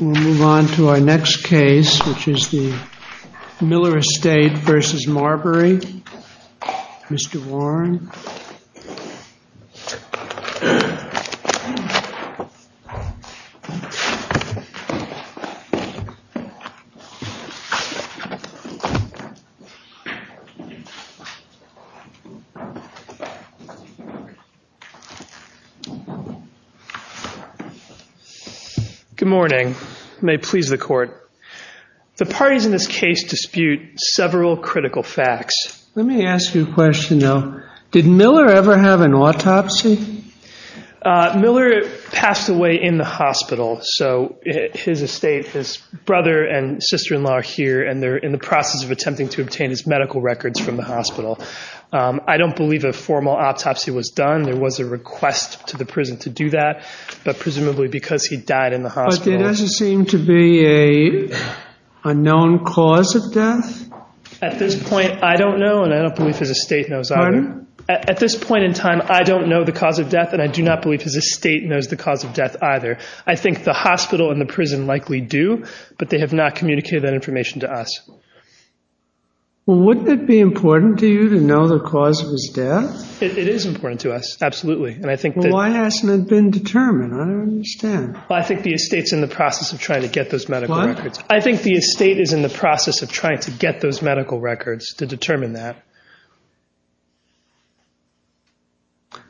We'll move on to our next case, which is the Miller Estate v. Marberry. Mr. Warren. Good morning. May it please the court. The parties in this case dispute several critical facts. Let me ask you a question, though. Did Miller ever have an autopsy? Miller passed away in the hospital. So his estate, his brother and sister-in-law are here, and they're in the process of attempting to obtain his medical records from the hospital. I don't believe a formal autopsy was done. There was a request to the prison to do that, but presumably because he died in the hospital. But there doesn't seem to be a known cause of death? At this point, I don't know, and I don't believe his estate knows either. At this point in time, I don't know the cause of death, and I do not believe his estate knows the cause of death either. I think the hospital and the prison likely do, but they have not communicated that information to us. Well, wouldn't it be important to you to know the cause of his death? It is important to us, absolutely. Well, why hasn't it been determined? I don't understand. Well, I think the estate's in the process of trying to get those medical records. I think the estate is in the process of trying to get those medical records to determine that.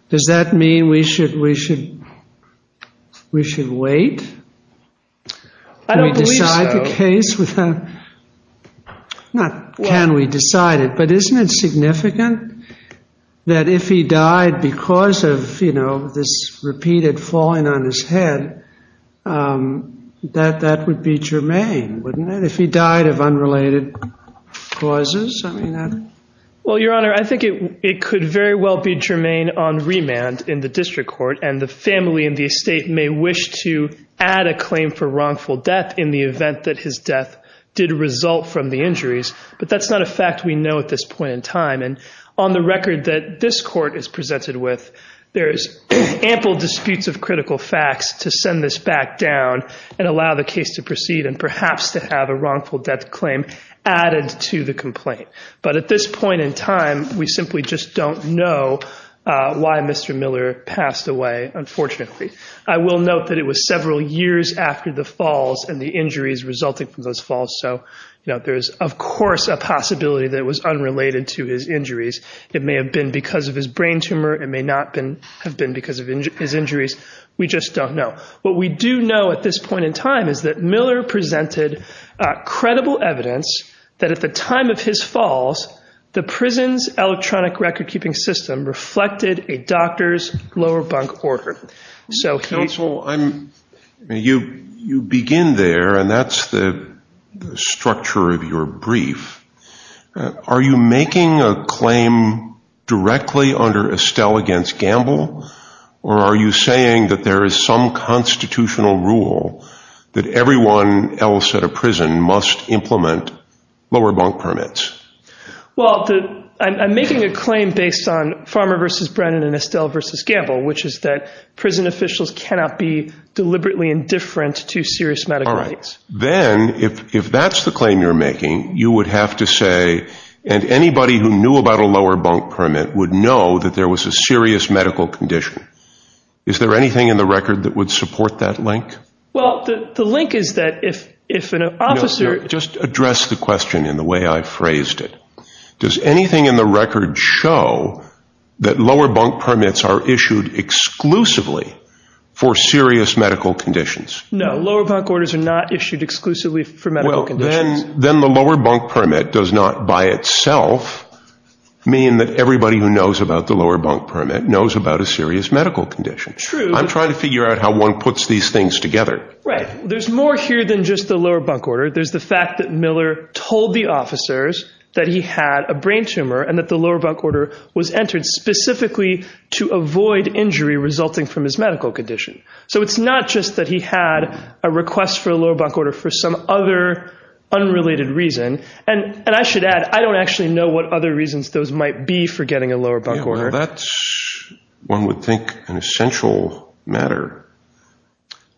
Does that mean we should wait? I don't believe so. Not can we decide it, but isn't it significant that if he died because of this repeated falling on his head, that that would be germane, wouldn't it, if he died of unrelated causes? Well, Your Honor, I think it could very well be germane on remand in the district court, and the family and the estate may wish to add a claim for wrongful death in the event that his death did result from the injuries, but that's not a fact we know at this point in time. And on the record that this court is presented with, there's ample disputes of critical facts to send this back down and allow the case to proceed and perhaps to have a wrongful death claim added to the complaint. But at this point in time, we simply just don't know why Mr. Miller passed away, unfortunately. I will note that it was several years after the falls and the injuries resulting from those falls, so there is, of course, a possibility that it was unrelated to his injuries. It may have been because of his brain tumor. It may not have been because of his injuries. We just don't know. What we do know at this point in time is that Miller presented credible evidence that at the time of his falls, the prison's electronic recordkeeping system reflected a doctor's lower bunk order. Counsel, you begin there, and that's the structure of your brief. Are you making a claim directly under Estelle against Gamble, or are you saying that there is some constitutional rule that everyone else at a prison must implement lower bunk permits? Well, I'm making a claim based on Farmer v. Brennan and Estelle v. Gamble, which is that prison officials cannot be deliberately indifferent to serious medical needs. All right. Then if that's the claim you're making, you would have to say, and anybody who knew about a lower bunk permit would know that there was a serious medical condition. Is there anything in the record that would support that link? Well, the link is that if an officer— No, just address the question in the way I phrased it. Does anything in the record show that lower bunk permits are issued exclusively for serious medical conditions? No, lower bunk orders are not issued exclusively for medical conditions. Then the lower bunk permit does not by itself mean that everybody who knows about the lower bunk permit knows about a serious medical condition. True. I'm trying to figure out how one puts these things together. Right. There's more here than just the lower bunk order. There's the fact that Miller told the officers that he had a brain tumor and that the lower bunk order was entered specifically to avoid injury resulting from his medical condition. So it's not just that he had a request for a lower bunk order for some other unrelated reason. And I should add, I don't actually know what other reasons those might be for getting a lower bunk order. That's, one would think, an essential matter.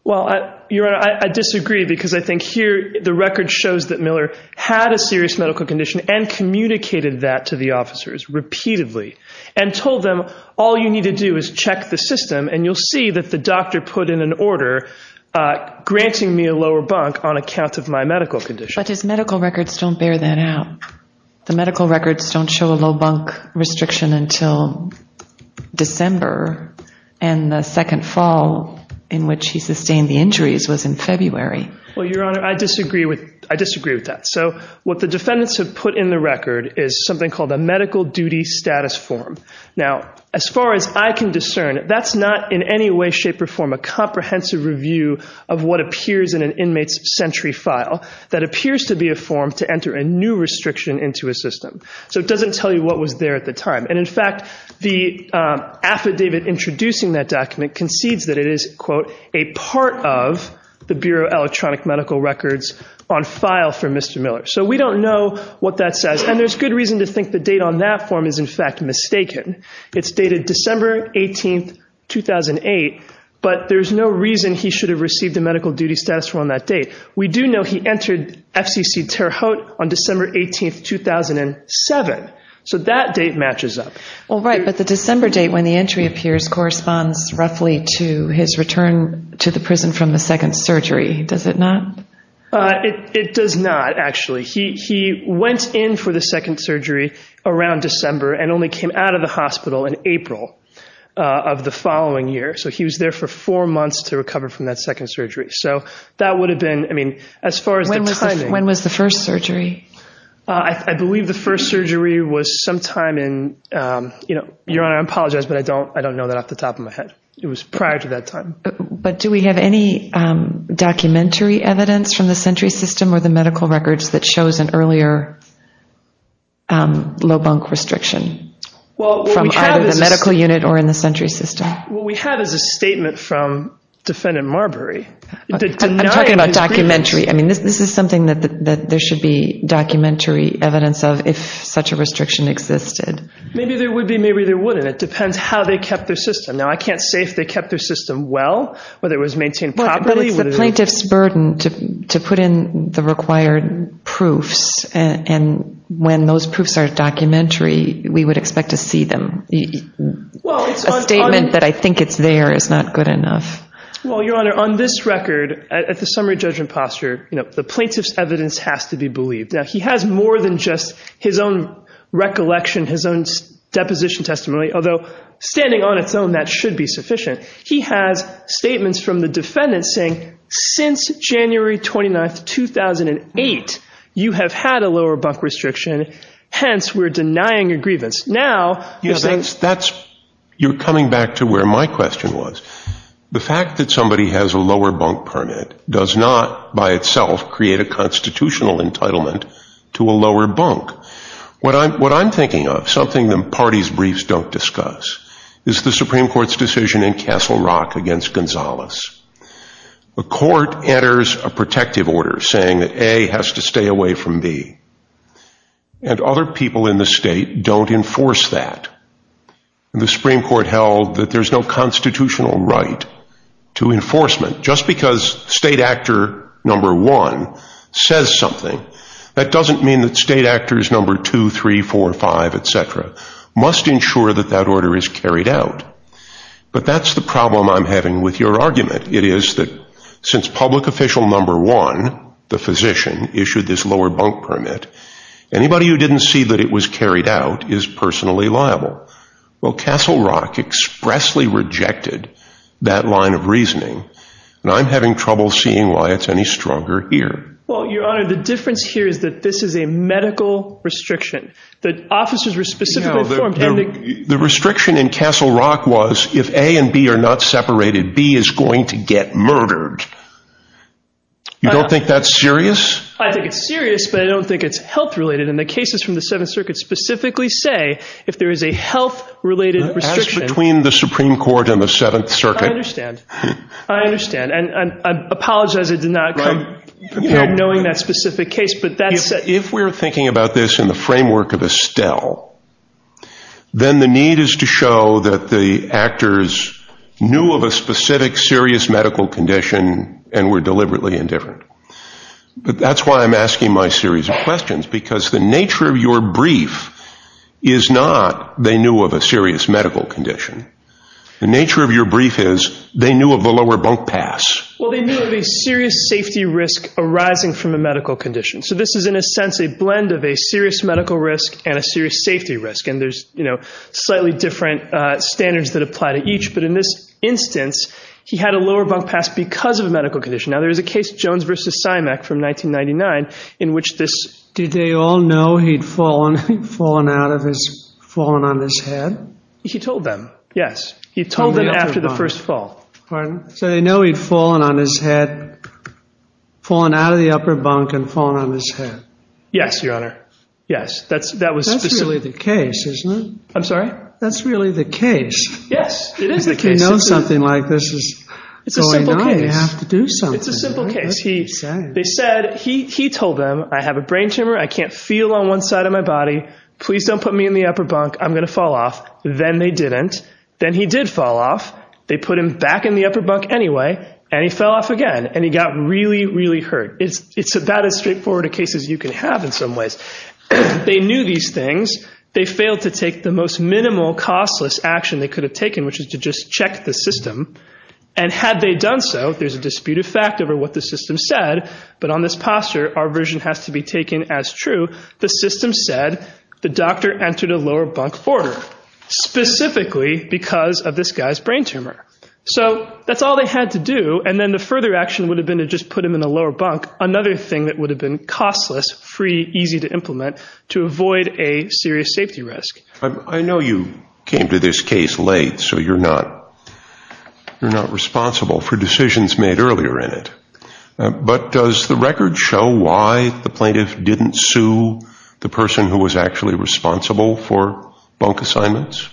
Well, Your Honor, I disagree because I think here the record shows that Miller had a serious medical condition and communicated that to the officers repeatedly. And told them all you need to do is check the system and you'll see that the doctor put in an order granting me a lower bunk on account of my medical condition. But his medical records don't bear that out. The medical records don't show a low bunk restriction until December and the second fall in which he sustained the injuries was in February. Well, Your Honor, I disagree with that. So what the defendants have put in the record is something called a medical duty status form. Now, as far as I can discern, that's not in any way, shape, or form a comprehensive review of what appears in an inmate's sentry file that appears to be a form to enter a new restriction into a system. So it doesn't tell you what was there at the time. And, in fact, the affidavit introducing that document concedes that it is, quote, a part of the Bureau of Electronic Medical Records on file for Mr. Miller. So we don't know what that says. And there's good reason to think the date on that form is, in fact, mistaken. It's dated December 18, 2008, but there's no reason he should have received a medical duty status on that date. We do know he entered FCC Terre Haute on December 18, 2007. So that date matches up. Well, right, but the December date when the entry appears corresponds roughly to his return to the prison from the second surgery, does it not? It does not, actually. He went in for the second surgery around December and only came out of the hospital in April of the following year. So he was there for four months to recover from that second surgery. So that would have been, I mean, as far as the timing. When was the first surgery? I believe the first surgery was sometime in, you know, Your Honor, I apologize, but I don't know that off the top of my head. It was prior to that time. But do we have any documentary evidence from the Sentry System or the medical records that shows an earlier low bunk restriction from either the medical unit or in the Sentry System? What we have is a statement from Defendant Marbury. I'm talking about documentary. I mean, this is something that there should be documentary evidence of if such a restriction existed. Maybe there would be, maybe there wouldn't. It depends how they kept their system. Now, I can't say if they kept their system well, whether it was maintained properly. But it's the plaintiff's burden to put in the required proofs. And when those proofs are documentary, we would expect to see them. A statement that I think it's there is not good enough. Well, Your Honor, on this record, at the summary judgment posture, you know, the plaintiff's evidence has to be believed. Now, he has more than just his own recollection, his own deposition testimony, although standing on its own, that should be sufficient. He has statements from the defendants saying since January 29, 2008, you have had a lower bunk restriction. Hence, we're denying your grievance. You're coming back to where my question was. The fact that somebody has a lower bunk permit does not, by itself, create a constitutional entitlement to a lower bunk. What I'm thinking of, something that parties' briefs don't discuss, is the Supreme Court's decision in Castle Rock against Gonzales. The court enters a protective order saying that A has to stay away from B. And other people in the state don't enforce that. The Supreme Court held that there's no constitutional right to enforcement. Just because state actor number one says something, that doesn't mean that state actors number two, three, four, five, etc., must ensure that that order is carried out. But that's the problem I'm having with your argument. It is that since public official number one, the physician, issued this lower bunk permit, anybody who didn't see that it was carried out is personally liable. Well, Castle Rock expressly rejected that line of reasoning. And I'm having trouble seeing why it's any stronger here. Well, Your Honor, the difference here is that this is a medical restriction. The officers were specifically informed. The restriction in Castle Rock was if A and B are not separated, B is going to get murdered. You don't think that's serious? I think it's serious, but I don't think it's health-related. And the cases from the Seventh Circuit specifically say if there is a health-related restriction. That's between the Supreme Court and the Seventh Circuit. I understand. I understand. And I apologize I did not come prepared knowing that specific case. If we're thinking about this in the framework of Estelle, then the need is to show that the actors knew of a specific serious medical condition and were deliberately indifferent. But that's why I'm asking my series of questions, because the nature of your brief is not they knew of a serious medical condition. The nature of your brief is they knew of the lower bunk pass. Well, they knew of a serious safety risk arising from a medical condition. So this is, in a sense, a blend of a serious medical risk and a serious safety risk. And there's, you know, slightly different standards that apply to each. But in this instance, he had a lower bunk pass because of a medical condition. Now, there is a case, Jones v. Symec, from 1999, in which this— Did they all know he'd fallen out of his—fallen on his head? He told them, yes. He told them after the first fall. Pardon? So they know he'd fallen on his head, fallen out of the upper bunk and fallen on his head. Yes, Your Honor. Yes, that was specifically— That's really the case, isn't it? I'm sorry? That's really the case. Yes, it is the case. If you know something like this is going on, you have to do something. It's a simple case. It's a simple case. They said—he told them, I have a brain tumor. I can't feel on one side of my body. Please don't put me in the upper bunk. I'm going to fall off. Then they didn't. Then he did fall off. They put him back in the upper bunk anyway, and he fell off again. And he got really, really hurt. It's about as straightforward a case as you can have in some ways. They knew these things. They failed to take the most minimal, costless action they could have taken, which is to just check the system. And had they done so, there's a dispute of fact over what the system said. But on this posture, our version has to be taken as true. The system said the doctor entered a lower bunk order, specifically because of this guy's brain tumor. So that's all they had to do. And then the further action would have been to just put him in the lower bunk, another thing that would have been costless, free, easy to implement, to avoid a serious safety risk. I know you came to this case late, so you're not responsible for decisions made earlier in it. But does the record show why the plaintiff didn't sue the person who was actually responsible for bunk assignments?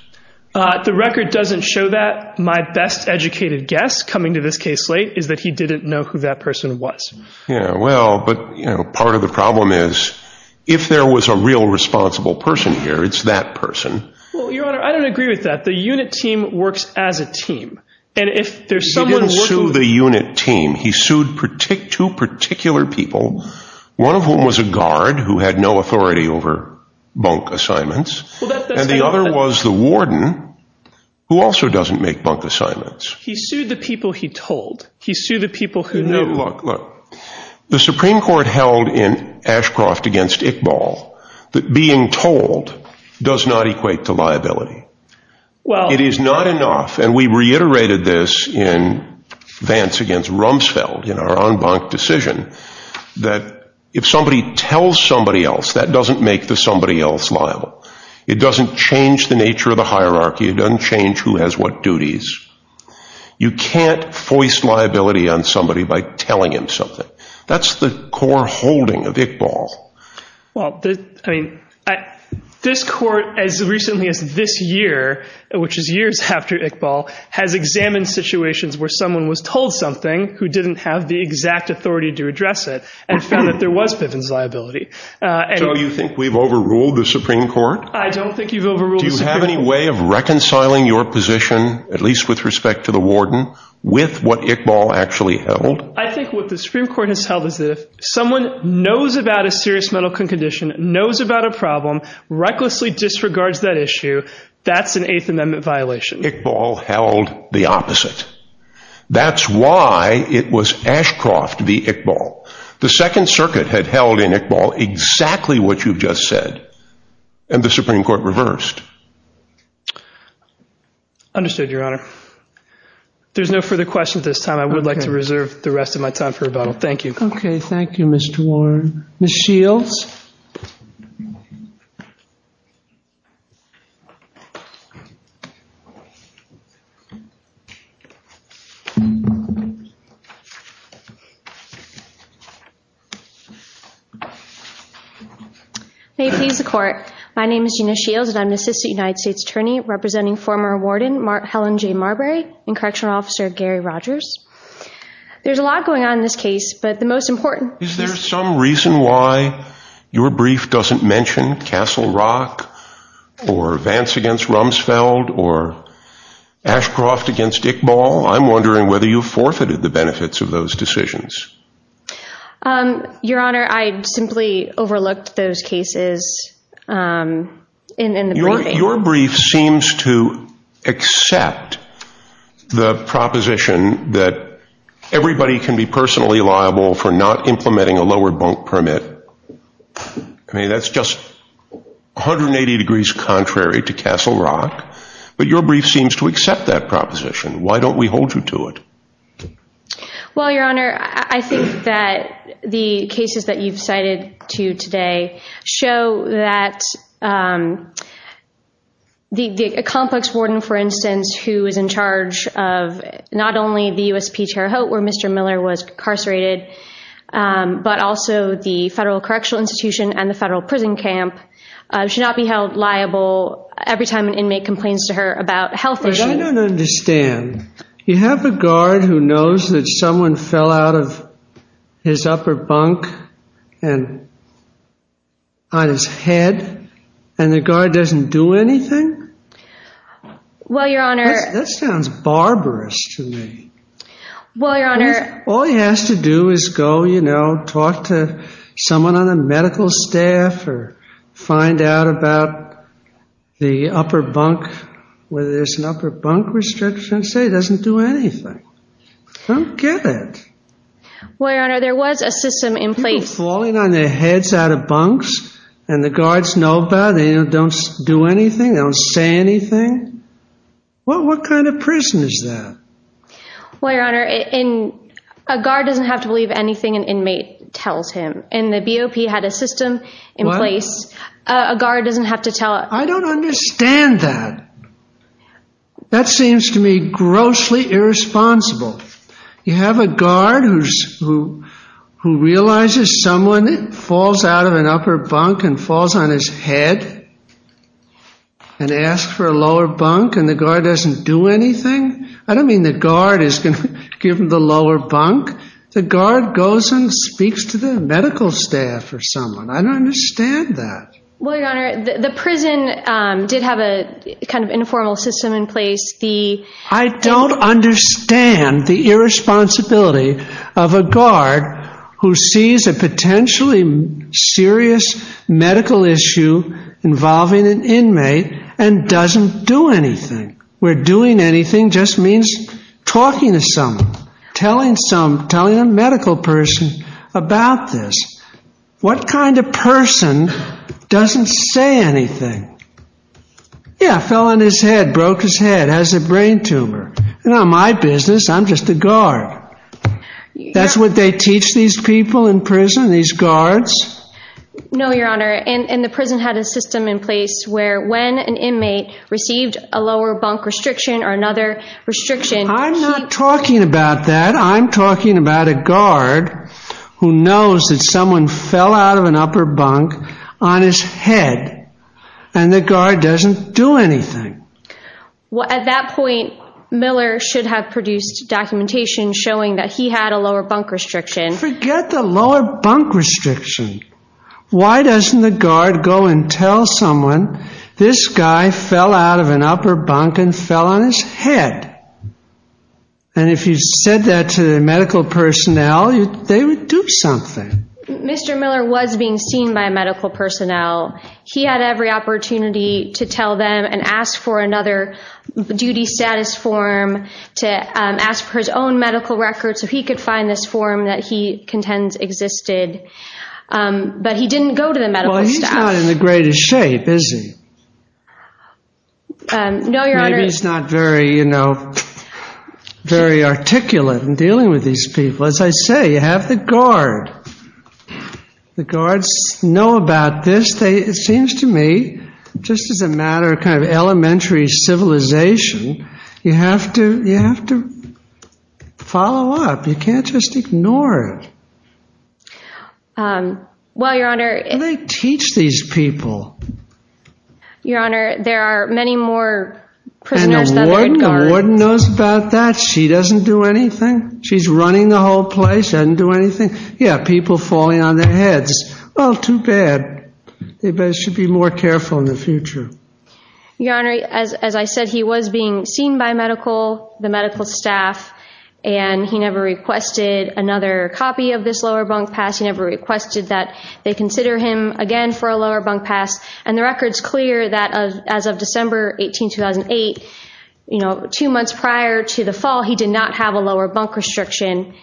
The record doesn't show that. My best educated guess, coming to this case late, is that he didn't know who that person was. Yeah, well, but part of the problem is, if there was a real responsible person here, it's that person. Well, Your Honor, I don't agree with that. The unit team works as a team. He didn't sue the unit team. He sued two particular people, one of whom was a guard who had no authority over bunk assignments, and the other was the warden, who also doesn't make bunk assignments. He sued the people he told. He sued the people who knew. Look, the Supreme Court held in Ashcroft against Iqbal that being told does not equate to liability. It is not enough, and we reiterated this in Vance against Rumsfeld in our en banc decision, that if somebody tells somebody else, that doesn't make the somebody else liable. It doesn't change the nature of the hierarchy. It doesn't change who has what duties. You can't force liability on somebody by telling him something. That's the core holding of Iqbal. Well, I mean, this court, as recently as this year, which is years after Iqbal, has examined situations where someone was told something who didn't have the exact authority to address it and found that there was Bivens liability. So you think we've overruled the Supreme Court? I don't think you've overruled the Supreme Court. Do you have any way of reconciling your position, at least with respect to the warden, with what Iqbal actually held? I think what the Supreme Court has held is that if someone knows about a serious mental condition, knows about a problem, recklessly disregards that issue, that's an Eighth Amendment violation. Iqbal held the opposite. That's why it was Ashcroft v. Iqbal. The Second Circuit had held in Iqbal exactly what you just said, and the Supreme Court reversed. Understood, Your Honor. There's no further questions at this time. I would like to reserve the rest of my time for rebuttal. Thank you. Okay. Thank you, Mr. Warren. Ms. Shields. May it please the Court. My name is Gina Shields, and I'm an Assistant United States Attorney representing former Warden Helen J. Marbury and Correctional Officer Gary Rogers. There's a lot going on in this case, but the most important— Is there some reason why your brief doesn't mention Castle Rock or Vance v. Rumsfeld or Ashcroft v. Iqbal? I'm wondering whether you forfeited the benefits of those decisions. Your Honor, I simply overlooked those cases in the briefing. Your brief seems to accept the proposition that everybody can be personally liable for not implementing a lower bunk permit. I mean, that's just 180 degrees contrary to Castle Rock, but your brief seems to accept that proposition. Why don't we hold you to it? Well, Your Honor, I think that the cases that you've cited to today show that a complex warden, for instance, who is in charge of not only the USP Terre Haute where Mr. Miller was incarcerated, but also the Federal Correctional Institution and the Federal Prison Camp should not be held liable every time an inmate complains to her about a health issue. I don't understand. You have a guard who knows that someone fell out of his upper bunk on his head and the guard doesn't do anything? Well, Your Honor— That sounds barbarous to me. Well, Your Honor— All he has to do is go, you know, talk to someone on the medical staff or find out about the upper bunk, whether there's an upper bunk restriction, and say he doesn't do anything. I don't get it. Well, Your Honor, there was a system in place— People falling on their heads out of bunks and the guards know about it, they don't do anything, they don't say anything. What kind of prison is that? Well, Your Honor, a guard doesn't have to believe anything an inmate tells him, and the BOP had a system in place. What? A guard doesn't have to tell— I don't understand that. That seems to me grossly irresponsible. You have a guard who realizes someone falls out of an upper bunk and falls on his head and asks for a lower bunk and the guard doesn't do anything? I don't mean the guard is going to give him the lower bunk. The guard goes and speaks to the medical staff or someone. I don't understand that. Well, Your Honor, the prison did have a kind of informal system in place. I don't understand the irresponsibility of a guard who sees a potentially serious medical issue involving an inmate and doesn't do anything, where doing anything just means talking to someone, telling a medical person about this. What kind of person doesn't say anything? Yeah, fell on his head, broke his head, has a brain tumor. It's not my business. I'm just a guard. That's what they teach these people in prison, these guards? No, Your Honor, and the prison had a system in place where when an inmate received a lower bunk restriction or another restriction— I'm not talking about that. I'm talking about a guard who knows that someone fell out of an upper bunk on his head and the guard doesn't do anything. At that point, Miller should have produced documentation showing that he had a lower bunk restriction. Forget the lower bunk restriction. Why doesn't the guard go and tell someone, this guy fell out of an upper bunk and fell on his head? And if you said that to the medical personnel, they would do something. Mr. Miller was being seen by medical personnel. He had every opportunity to tell them and ask for another duty status form, to ask for his own medical record so he could find this form that he contends existed. But he didn't go to the medical staff. He's not in the greatest shape, is he? No, Your Honor. Maybe he's not very articulate in dealing with these people. As I say, you have the guard. The guards know about this. It seems to me, just as a matter of kind of elementary civilization, you have to follow up. You can't just ignore it. Well, Your Honor. They teach these people. Your Honor, there are many more prisoners than the guard. And the warden knows about that. She doesn't do anything. She's running the whole place, doesn't do anything. Yeah, people falling on their heads. Oh, too bad. They should be more careful in the future. Your Honor, as I said, he was being seen by medical, the medical staff, and he never requested another copy of this lower bunk pass. He never requested that they consider him again for a lower bunk pass. And the record's clear that as of December 18, 2008, two months prior to the fall, he did not have a lower bunk restriction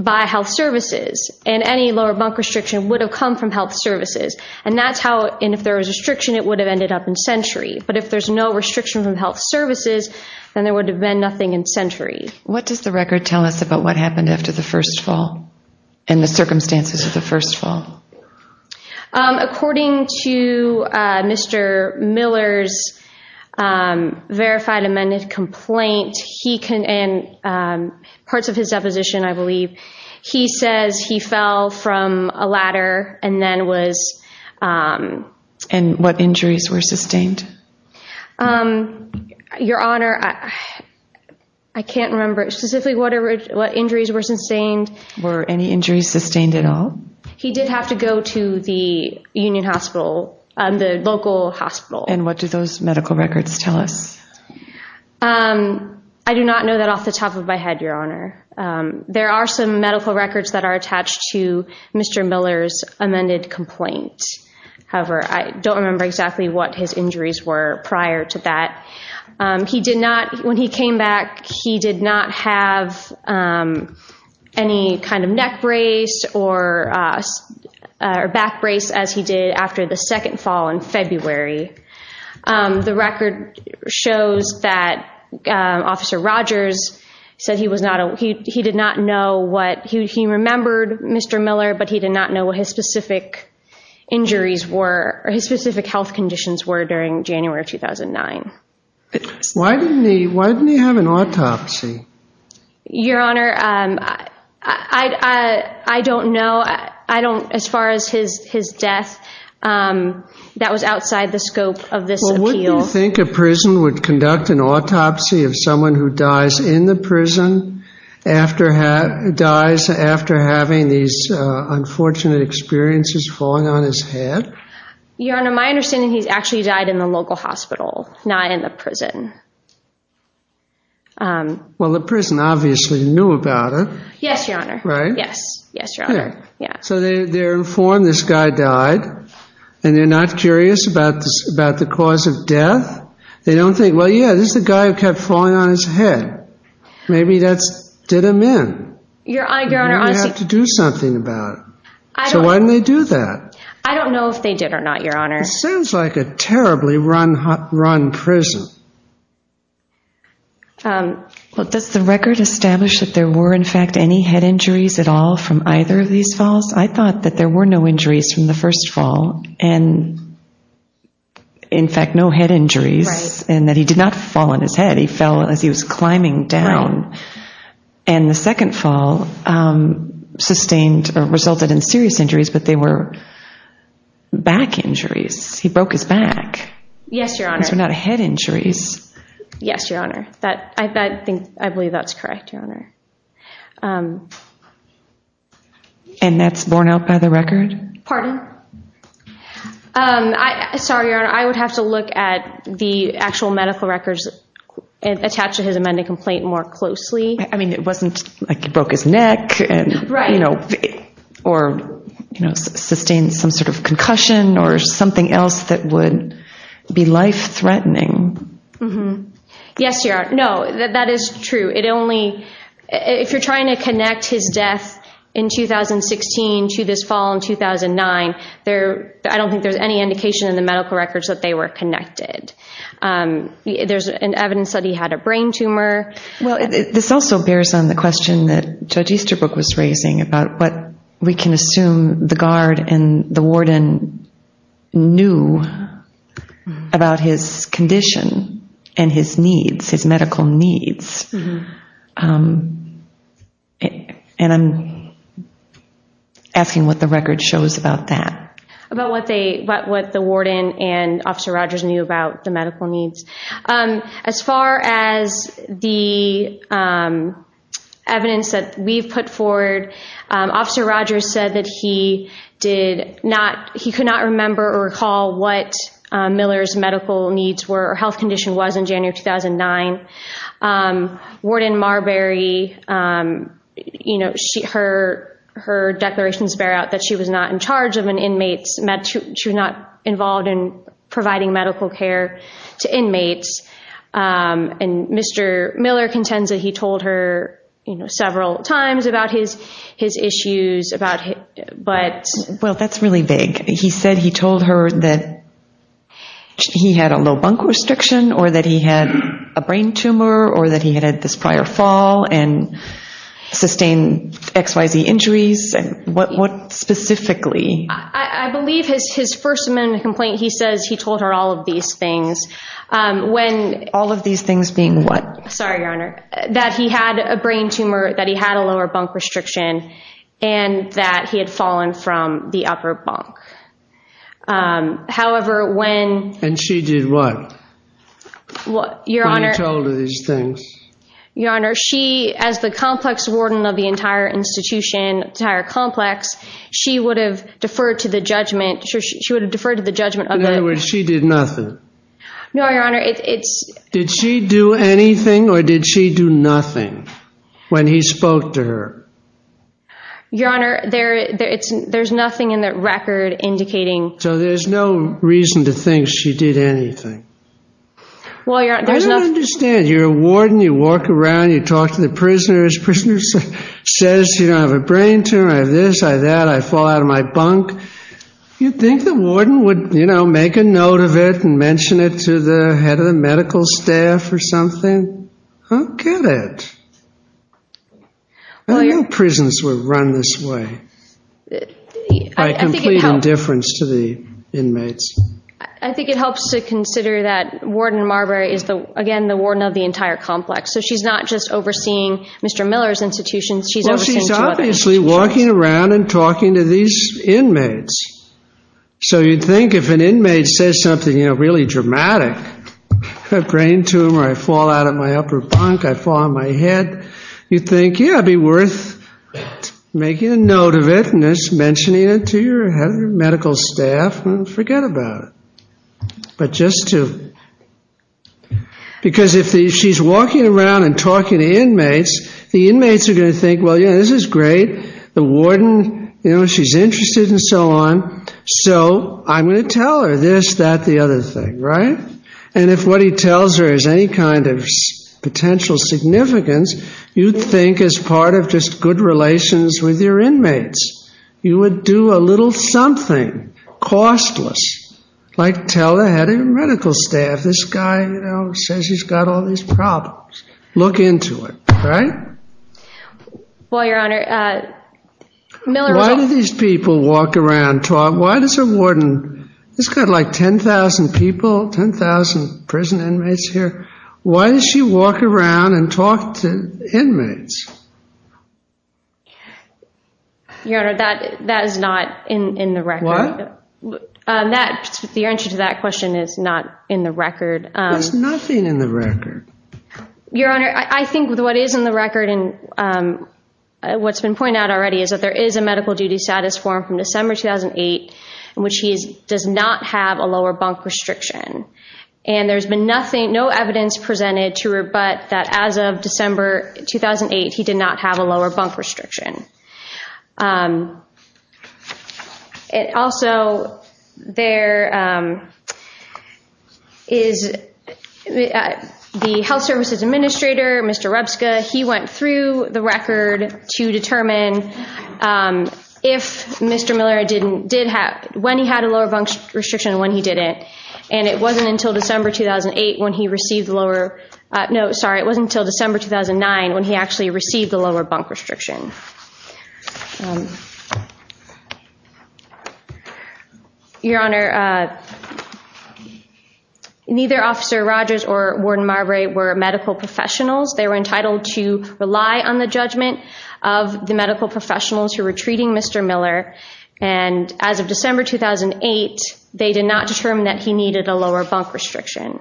by health services. And any lower bunk restriction would have come from health services. And if there was a restriction, it would have ended up in sentry. But if there's no restriction from health services, then there would have been nothing in sentry. What does the record tell us about what happened after the first fall and the circumstances of the first fall? According to Mr. Miller's verified amended complaint, and parts of his deposition, I believe, he says he fell from a ladder and then was... And what injuries were sustained? Your Honor, I can't remember specifically what injuries were sustained. Were any injuries sustained at all? He did have to go to the Union Hospital, the local hospital. And what do those medical records tell us? I do not know that off the top of my head, Your Honor. There are some medical records that are attached to Mr. Miller's amended complaint. However, I don't remember exactly what his injuries were prior to that. When he came back, he did not have any kind of neck brace or back brace as he did after the second fall in February. The record shows that Officer Rogers said he did not know what... his specific health conditions were during January of 2009. Why didn't he have an autopsy? Your Honor, I don't know. As far as his death, that was outside the scope of this appeal. Well, wouldn't you think a prison would conduct an autopsy of someone who dies in the prison, dies after having these unfortunate experiences falling on his head? Your Honor, my understanding is he actually died in the local hospital, not in the prison. Well, the prison obviously knew about it. Yes, Your Honor. Right? Yes, Your Honor. So they're informed this guy died, and they're not curious about the cause of death. They don't think, well, yeah, this is a guy who kept falling on his head. Maybe that's... did him in. Your Honor, honestly... Maybe they have to do something about it. So why didn't they do that? I don't know if they did or not, Your Honor. It sounds like a terribly run prison. Well, does the record establish that there were, in fact, any head injuries at all from either of these falls? I thought that there were no injuries from the first fall and, in fact, no head injuries. And that he did not fall on his head. He fell as he was climbing down. Right. And the second fall sustained or resulted in serious injuries, but they were back injuries. He broke his back. Yes, Your Honor. These were not head injuries. Yes, Your Honor. I believe that's correct, Your Honor. And that's borne out by the record? Pardon? Sorry, Your Honor. I would have to look at the actual medical records attached to his amended complaint more closely. I mean, it wasn't like he broke his neck and... Right. Or sustained some sort of concussion or something else that would be life-threatening. Yes, Your Honor. No, that is true. If you're trying to connect his death in 2016 to this fall in 2009, I don't think there's any indication in the medical records that they were connected. There's evidence that he had a brain tumor. Well, this also bears on the question that Judge Easterbrook was raising about what we can assume the guard and the warden knew about his condition and his needs, his medical needs. And I'm asking what the record shows about that. About what the warden and Officer Rogers knew about the medical needs. As far as the evidence that we've put forward, Officer Rogers said that he could not remember or recall what Miller's medical needs were or health condition was in January of 2009. Warden Marbury, you know, her declarations bear out that she was not in charge of an inmate's med... And Mr. Miller contends that he told her, you know, several times about his issues about... Well, that's really vague. He said he told her that he had a low bunk restriction or that he had a brain tumor or that he had had this prior fall and sustained X, Y, Z injuries. What specifically? I believe his first amendment complaint, he says he told her all of these things. When... All of these things being what? Sorry, Your Honor, that he had a brain tumor, that he had a lower bunk restriction, and that he had fallen from the upper bunk. However, when... And she did what? Your Honor... When he told her these things? Your Honor, she, as the complex warden of the entire institution, entire complex, she would have deferred to the judgment... She would have deferred to the judgment of the... In other words, she did nothing. No, Your Honor, it's... Did she do anything or did she do nothing when he spoke to her? Your Honor, there's nothing in that record indicating... So there's no reason to think she did anything. Well, Your Honor, there's nothing... I don't understand. You're a warden. You walk around. You talk to the prisoners. Prisoner says, you know, I have a brain tumor, I have this, I have that, I fall out of my bunk. You think the warden would, you know, make a note of it and mention it to the head of the medical staff or something? I don't get it. I didn't know prisons were run this way by complete indifference to the inmates. I think it helps to consider that Warden Marbury is, again, the warden of the entire complex. So she's not just overseeing Mr. Miller's institutions. She's overseeing two other institutions. Well, she's obviously walking around and talking to these inmates. So you'd think if an inmate says something, you know, really dramatic, I have a brain tumor, I fall out of my upper bunk, I fall on my head, you'd think, yeah, it'd be worth making a note of it and just mentioning it to your head of the medical staff. Forget about it. But just to... You'd think, well, yeah, this is great. The warden, you know, she's interested and so on. So I'm going to tell her this, that, the other thing, right? And if what he tells her is any kind of potential significance, you'd think as part of just good relations with your inmates, you would do a little something, costless, like tell the head of the medical staff, this guy, you know, says he's got all these problems. Look into it, right? Well, Your Honor... Why do these people walk around, talk? Why does a warden, this guy's got like 10,000 people, 10,000 prison inmates here. Why does she walk around and talk to inmates? Your Honor, that is not in the record. What? The answer to that question is not in the record. There's nothing in the record. Your Honor, I think what is in the record, and what's been pointed out already, is that there is a medical duty status form from December 2008 in which he does not have a lower bunk restriction. And there's been nothing, no evidence presented to her but that as of December 2008, he did not have a lower bunk restriction. Also, there is the Health Services Administrator, Mr. Rebska, he went through the record to determine if Mr. Miller did have... when he had a lower bunk restriction and when he didn't. And it wasn't until December 2008 when he received the lower... No, sorry, it wasn't until December 2009 when he actually received the lower bunk restriction. Your Honor, neither Officer Rogers or Warden Marbury were medical professionals. They were entitled to rely on the judgment of the medical professionals who were treating Mr. Miller. And as of December 2008, they did not determine that he needed a lower bunk restriction.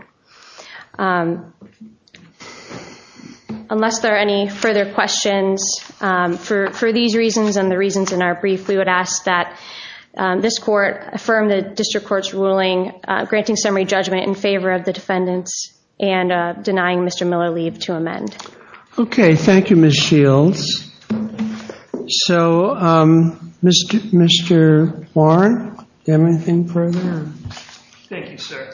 Unless there are any further questions, for these reasons and the reasons in our brief, we would ask that this Court affirm the District Court's ruling granting summary judgment in favor of the defendants and denying Mr. Miller leave to amend. Okay, thank you, Ms. Shields. So, Mr. Warren, do you have anything further? Thank you, sir.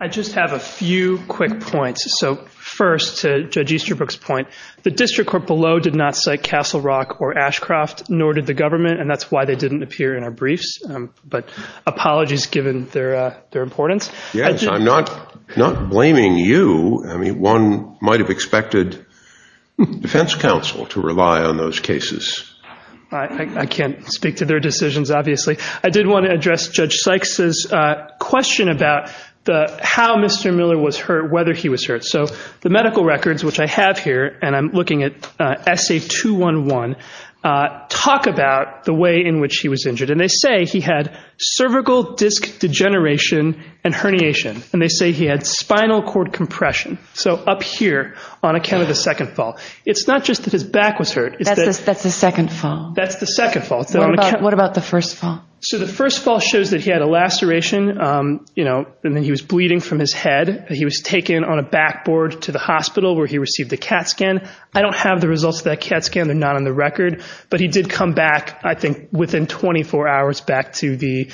I just have a few quick points. So, first, to Judge Easterbrook's point, the District Court below did not cite Castle Rock or Ashcroft, nor did the government, and that's why they didn't appear in our briefs. But apologies given their importance. Yes, I'm not blaming you. I mean, one might have expected Defense Counsel to rely on those cases. I can't speak to their decisions, obviously. I did want to address Judge Sykes' question about how Mr. Miller was hurt, whether he was hurt. So the medical records, which I have here, and I'm looking at Essay 211, talk about the way in which he was injured. And they say he had cervical disc degeneration and herniation, and they say he had spinal cord compression. So up here on account of the second fall. It's not just that his back was hurt. That's the second fall. That's the second fall. What about the first fall? So the first fall shows that he had a laceration, and then he was bleeding from his head. He was taken on a backboard to the hospital where he received a CAT scan. I don't have the results of that CAT scan. They're not on the record. But he did come back, I think, within 24 hours back to the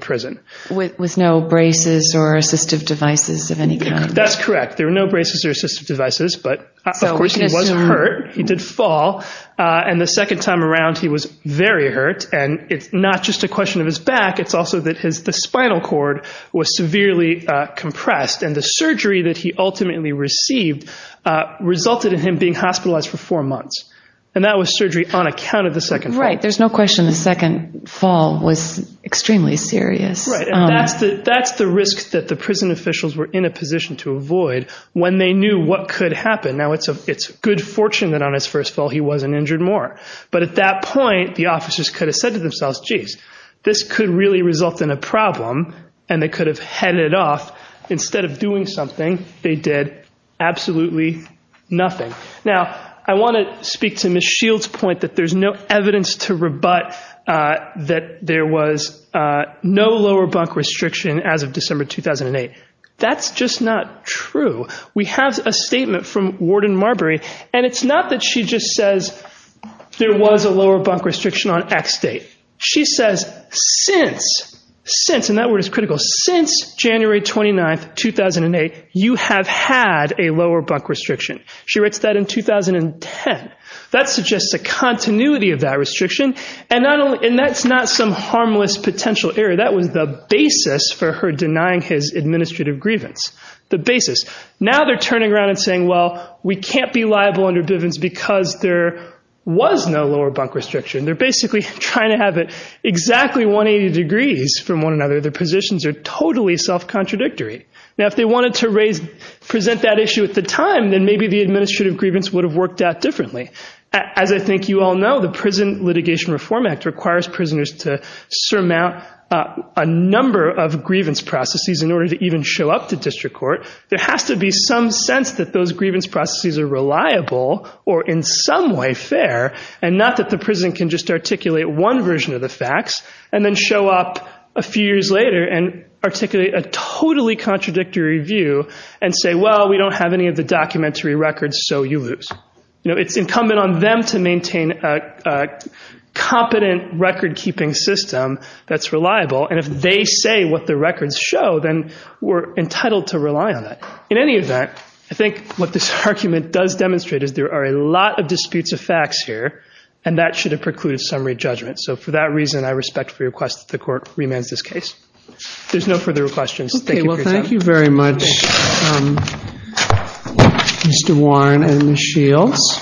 prison. With no braces or assistive devices of any kind. That's correct. There were no braces or assistive devices. But, of course, he was hurt. He did fall. And the second time around he was very hurt. And it's not just a question of his back. It's also that the spinal cord was severely compressed. And the surgery that he ultimately received resulted in him being hospitalized for four months. And that was surgery on account of the second fall. Right. There's no question the second fall was extremely serious. Right. And that's the risk that the prison officials were in a position to avoid when they knew what could happen. Now, it's good fortune that on his first fall he wasn't injured more. But at that point, the officers could have said to themselves, geez, this could really result in a problem, and they could have headed off. Instead of doing something, they did absolutely nothing. Now, I want to speak to Ms. Shields' point that there's no evidence to rebut that there was no lower bunk restriction as of December 2008. That's just not true. We have a statement from Warden Marbury, and it's not that she just says there was a lower bunk restriction on X date. She says since, since, and that word is critical, since January 29th, 2008, you have had a lower bunk restriction. She writes that in 2010. That suggests a continuity of that restriction, and that's not some harmless potential error. That was the basis for her denying his administrative grievance. The basis. Now they're turning around and saying, well, we can't be liable under Bivens because there was no lower bunk restriction. They're basically trying to have it exactly 180 degrees from one another. Their positions are totally self-contradictory. Now, if they wanted to present that issue at the time, then maybe the administrative grievance would have worked out differently. As I think you all know, the Prison Litigation Reform Act requires prisoners to surmount a number of grievance processes in order to even show up to district court. There has to be some sense that those grievance processes are reliable or in some way fair, and not that the prison can just articulate one version of the facts and then show up a few years later and articulate a totally contradictory view and say, well, we don't have any of the documentary records, so you lose. It's incumbent on them to maintain a competent record-keeping system that's reliable, and if they say what the records show, then we're entitled to rely on that. In any event, I think what this argument does demonstrate is there are a lot of disputes of facts here, and that should have precluded summary judgment. So for that reason, I respectfully request that the court remands this case. There's no further questions. Thank you for your time. Thank you very much, Mr. Warren and Ms. Shields.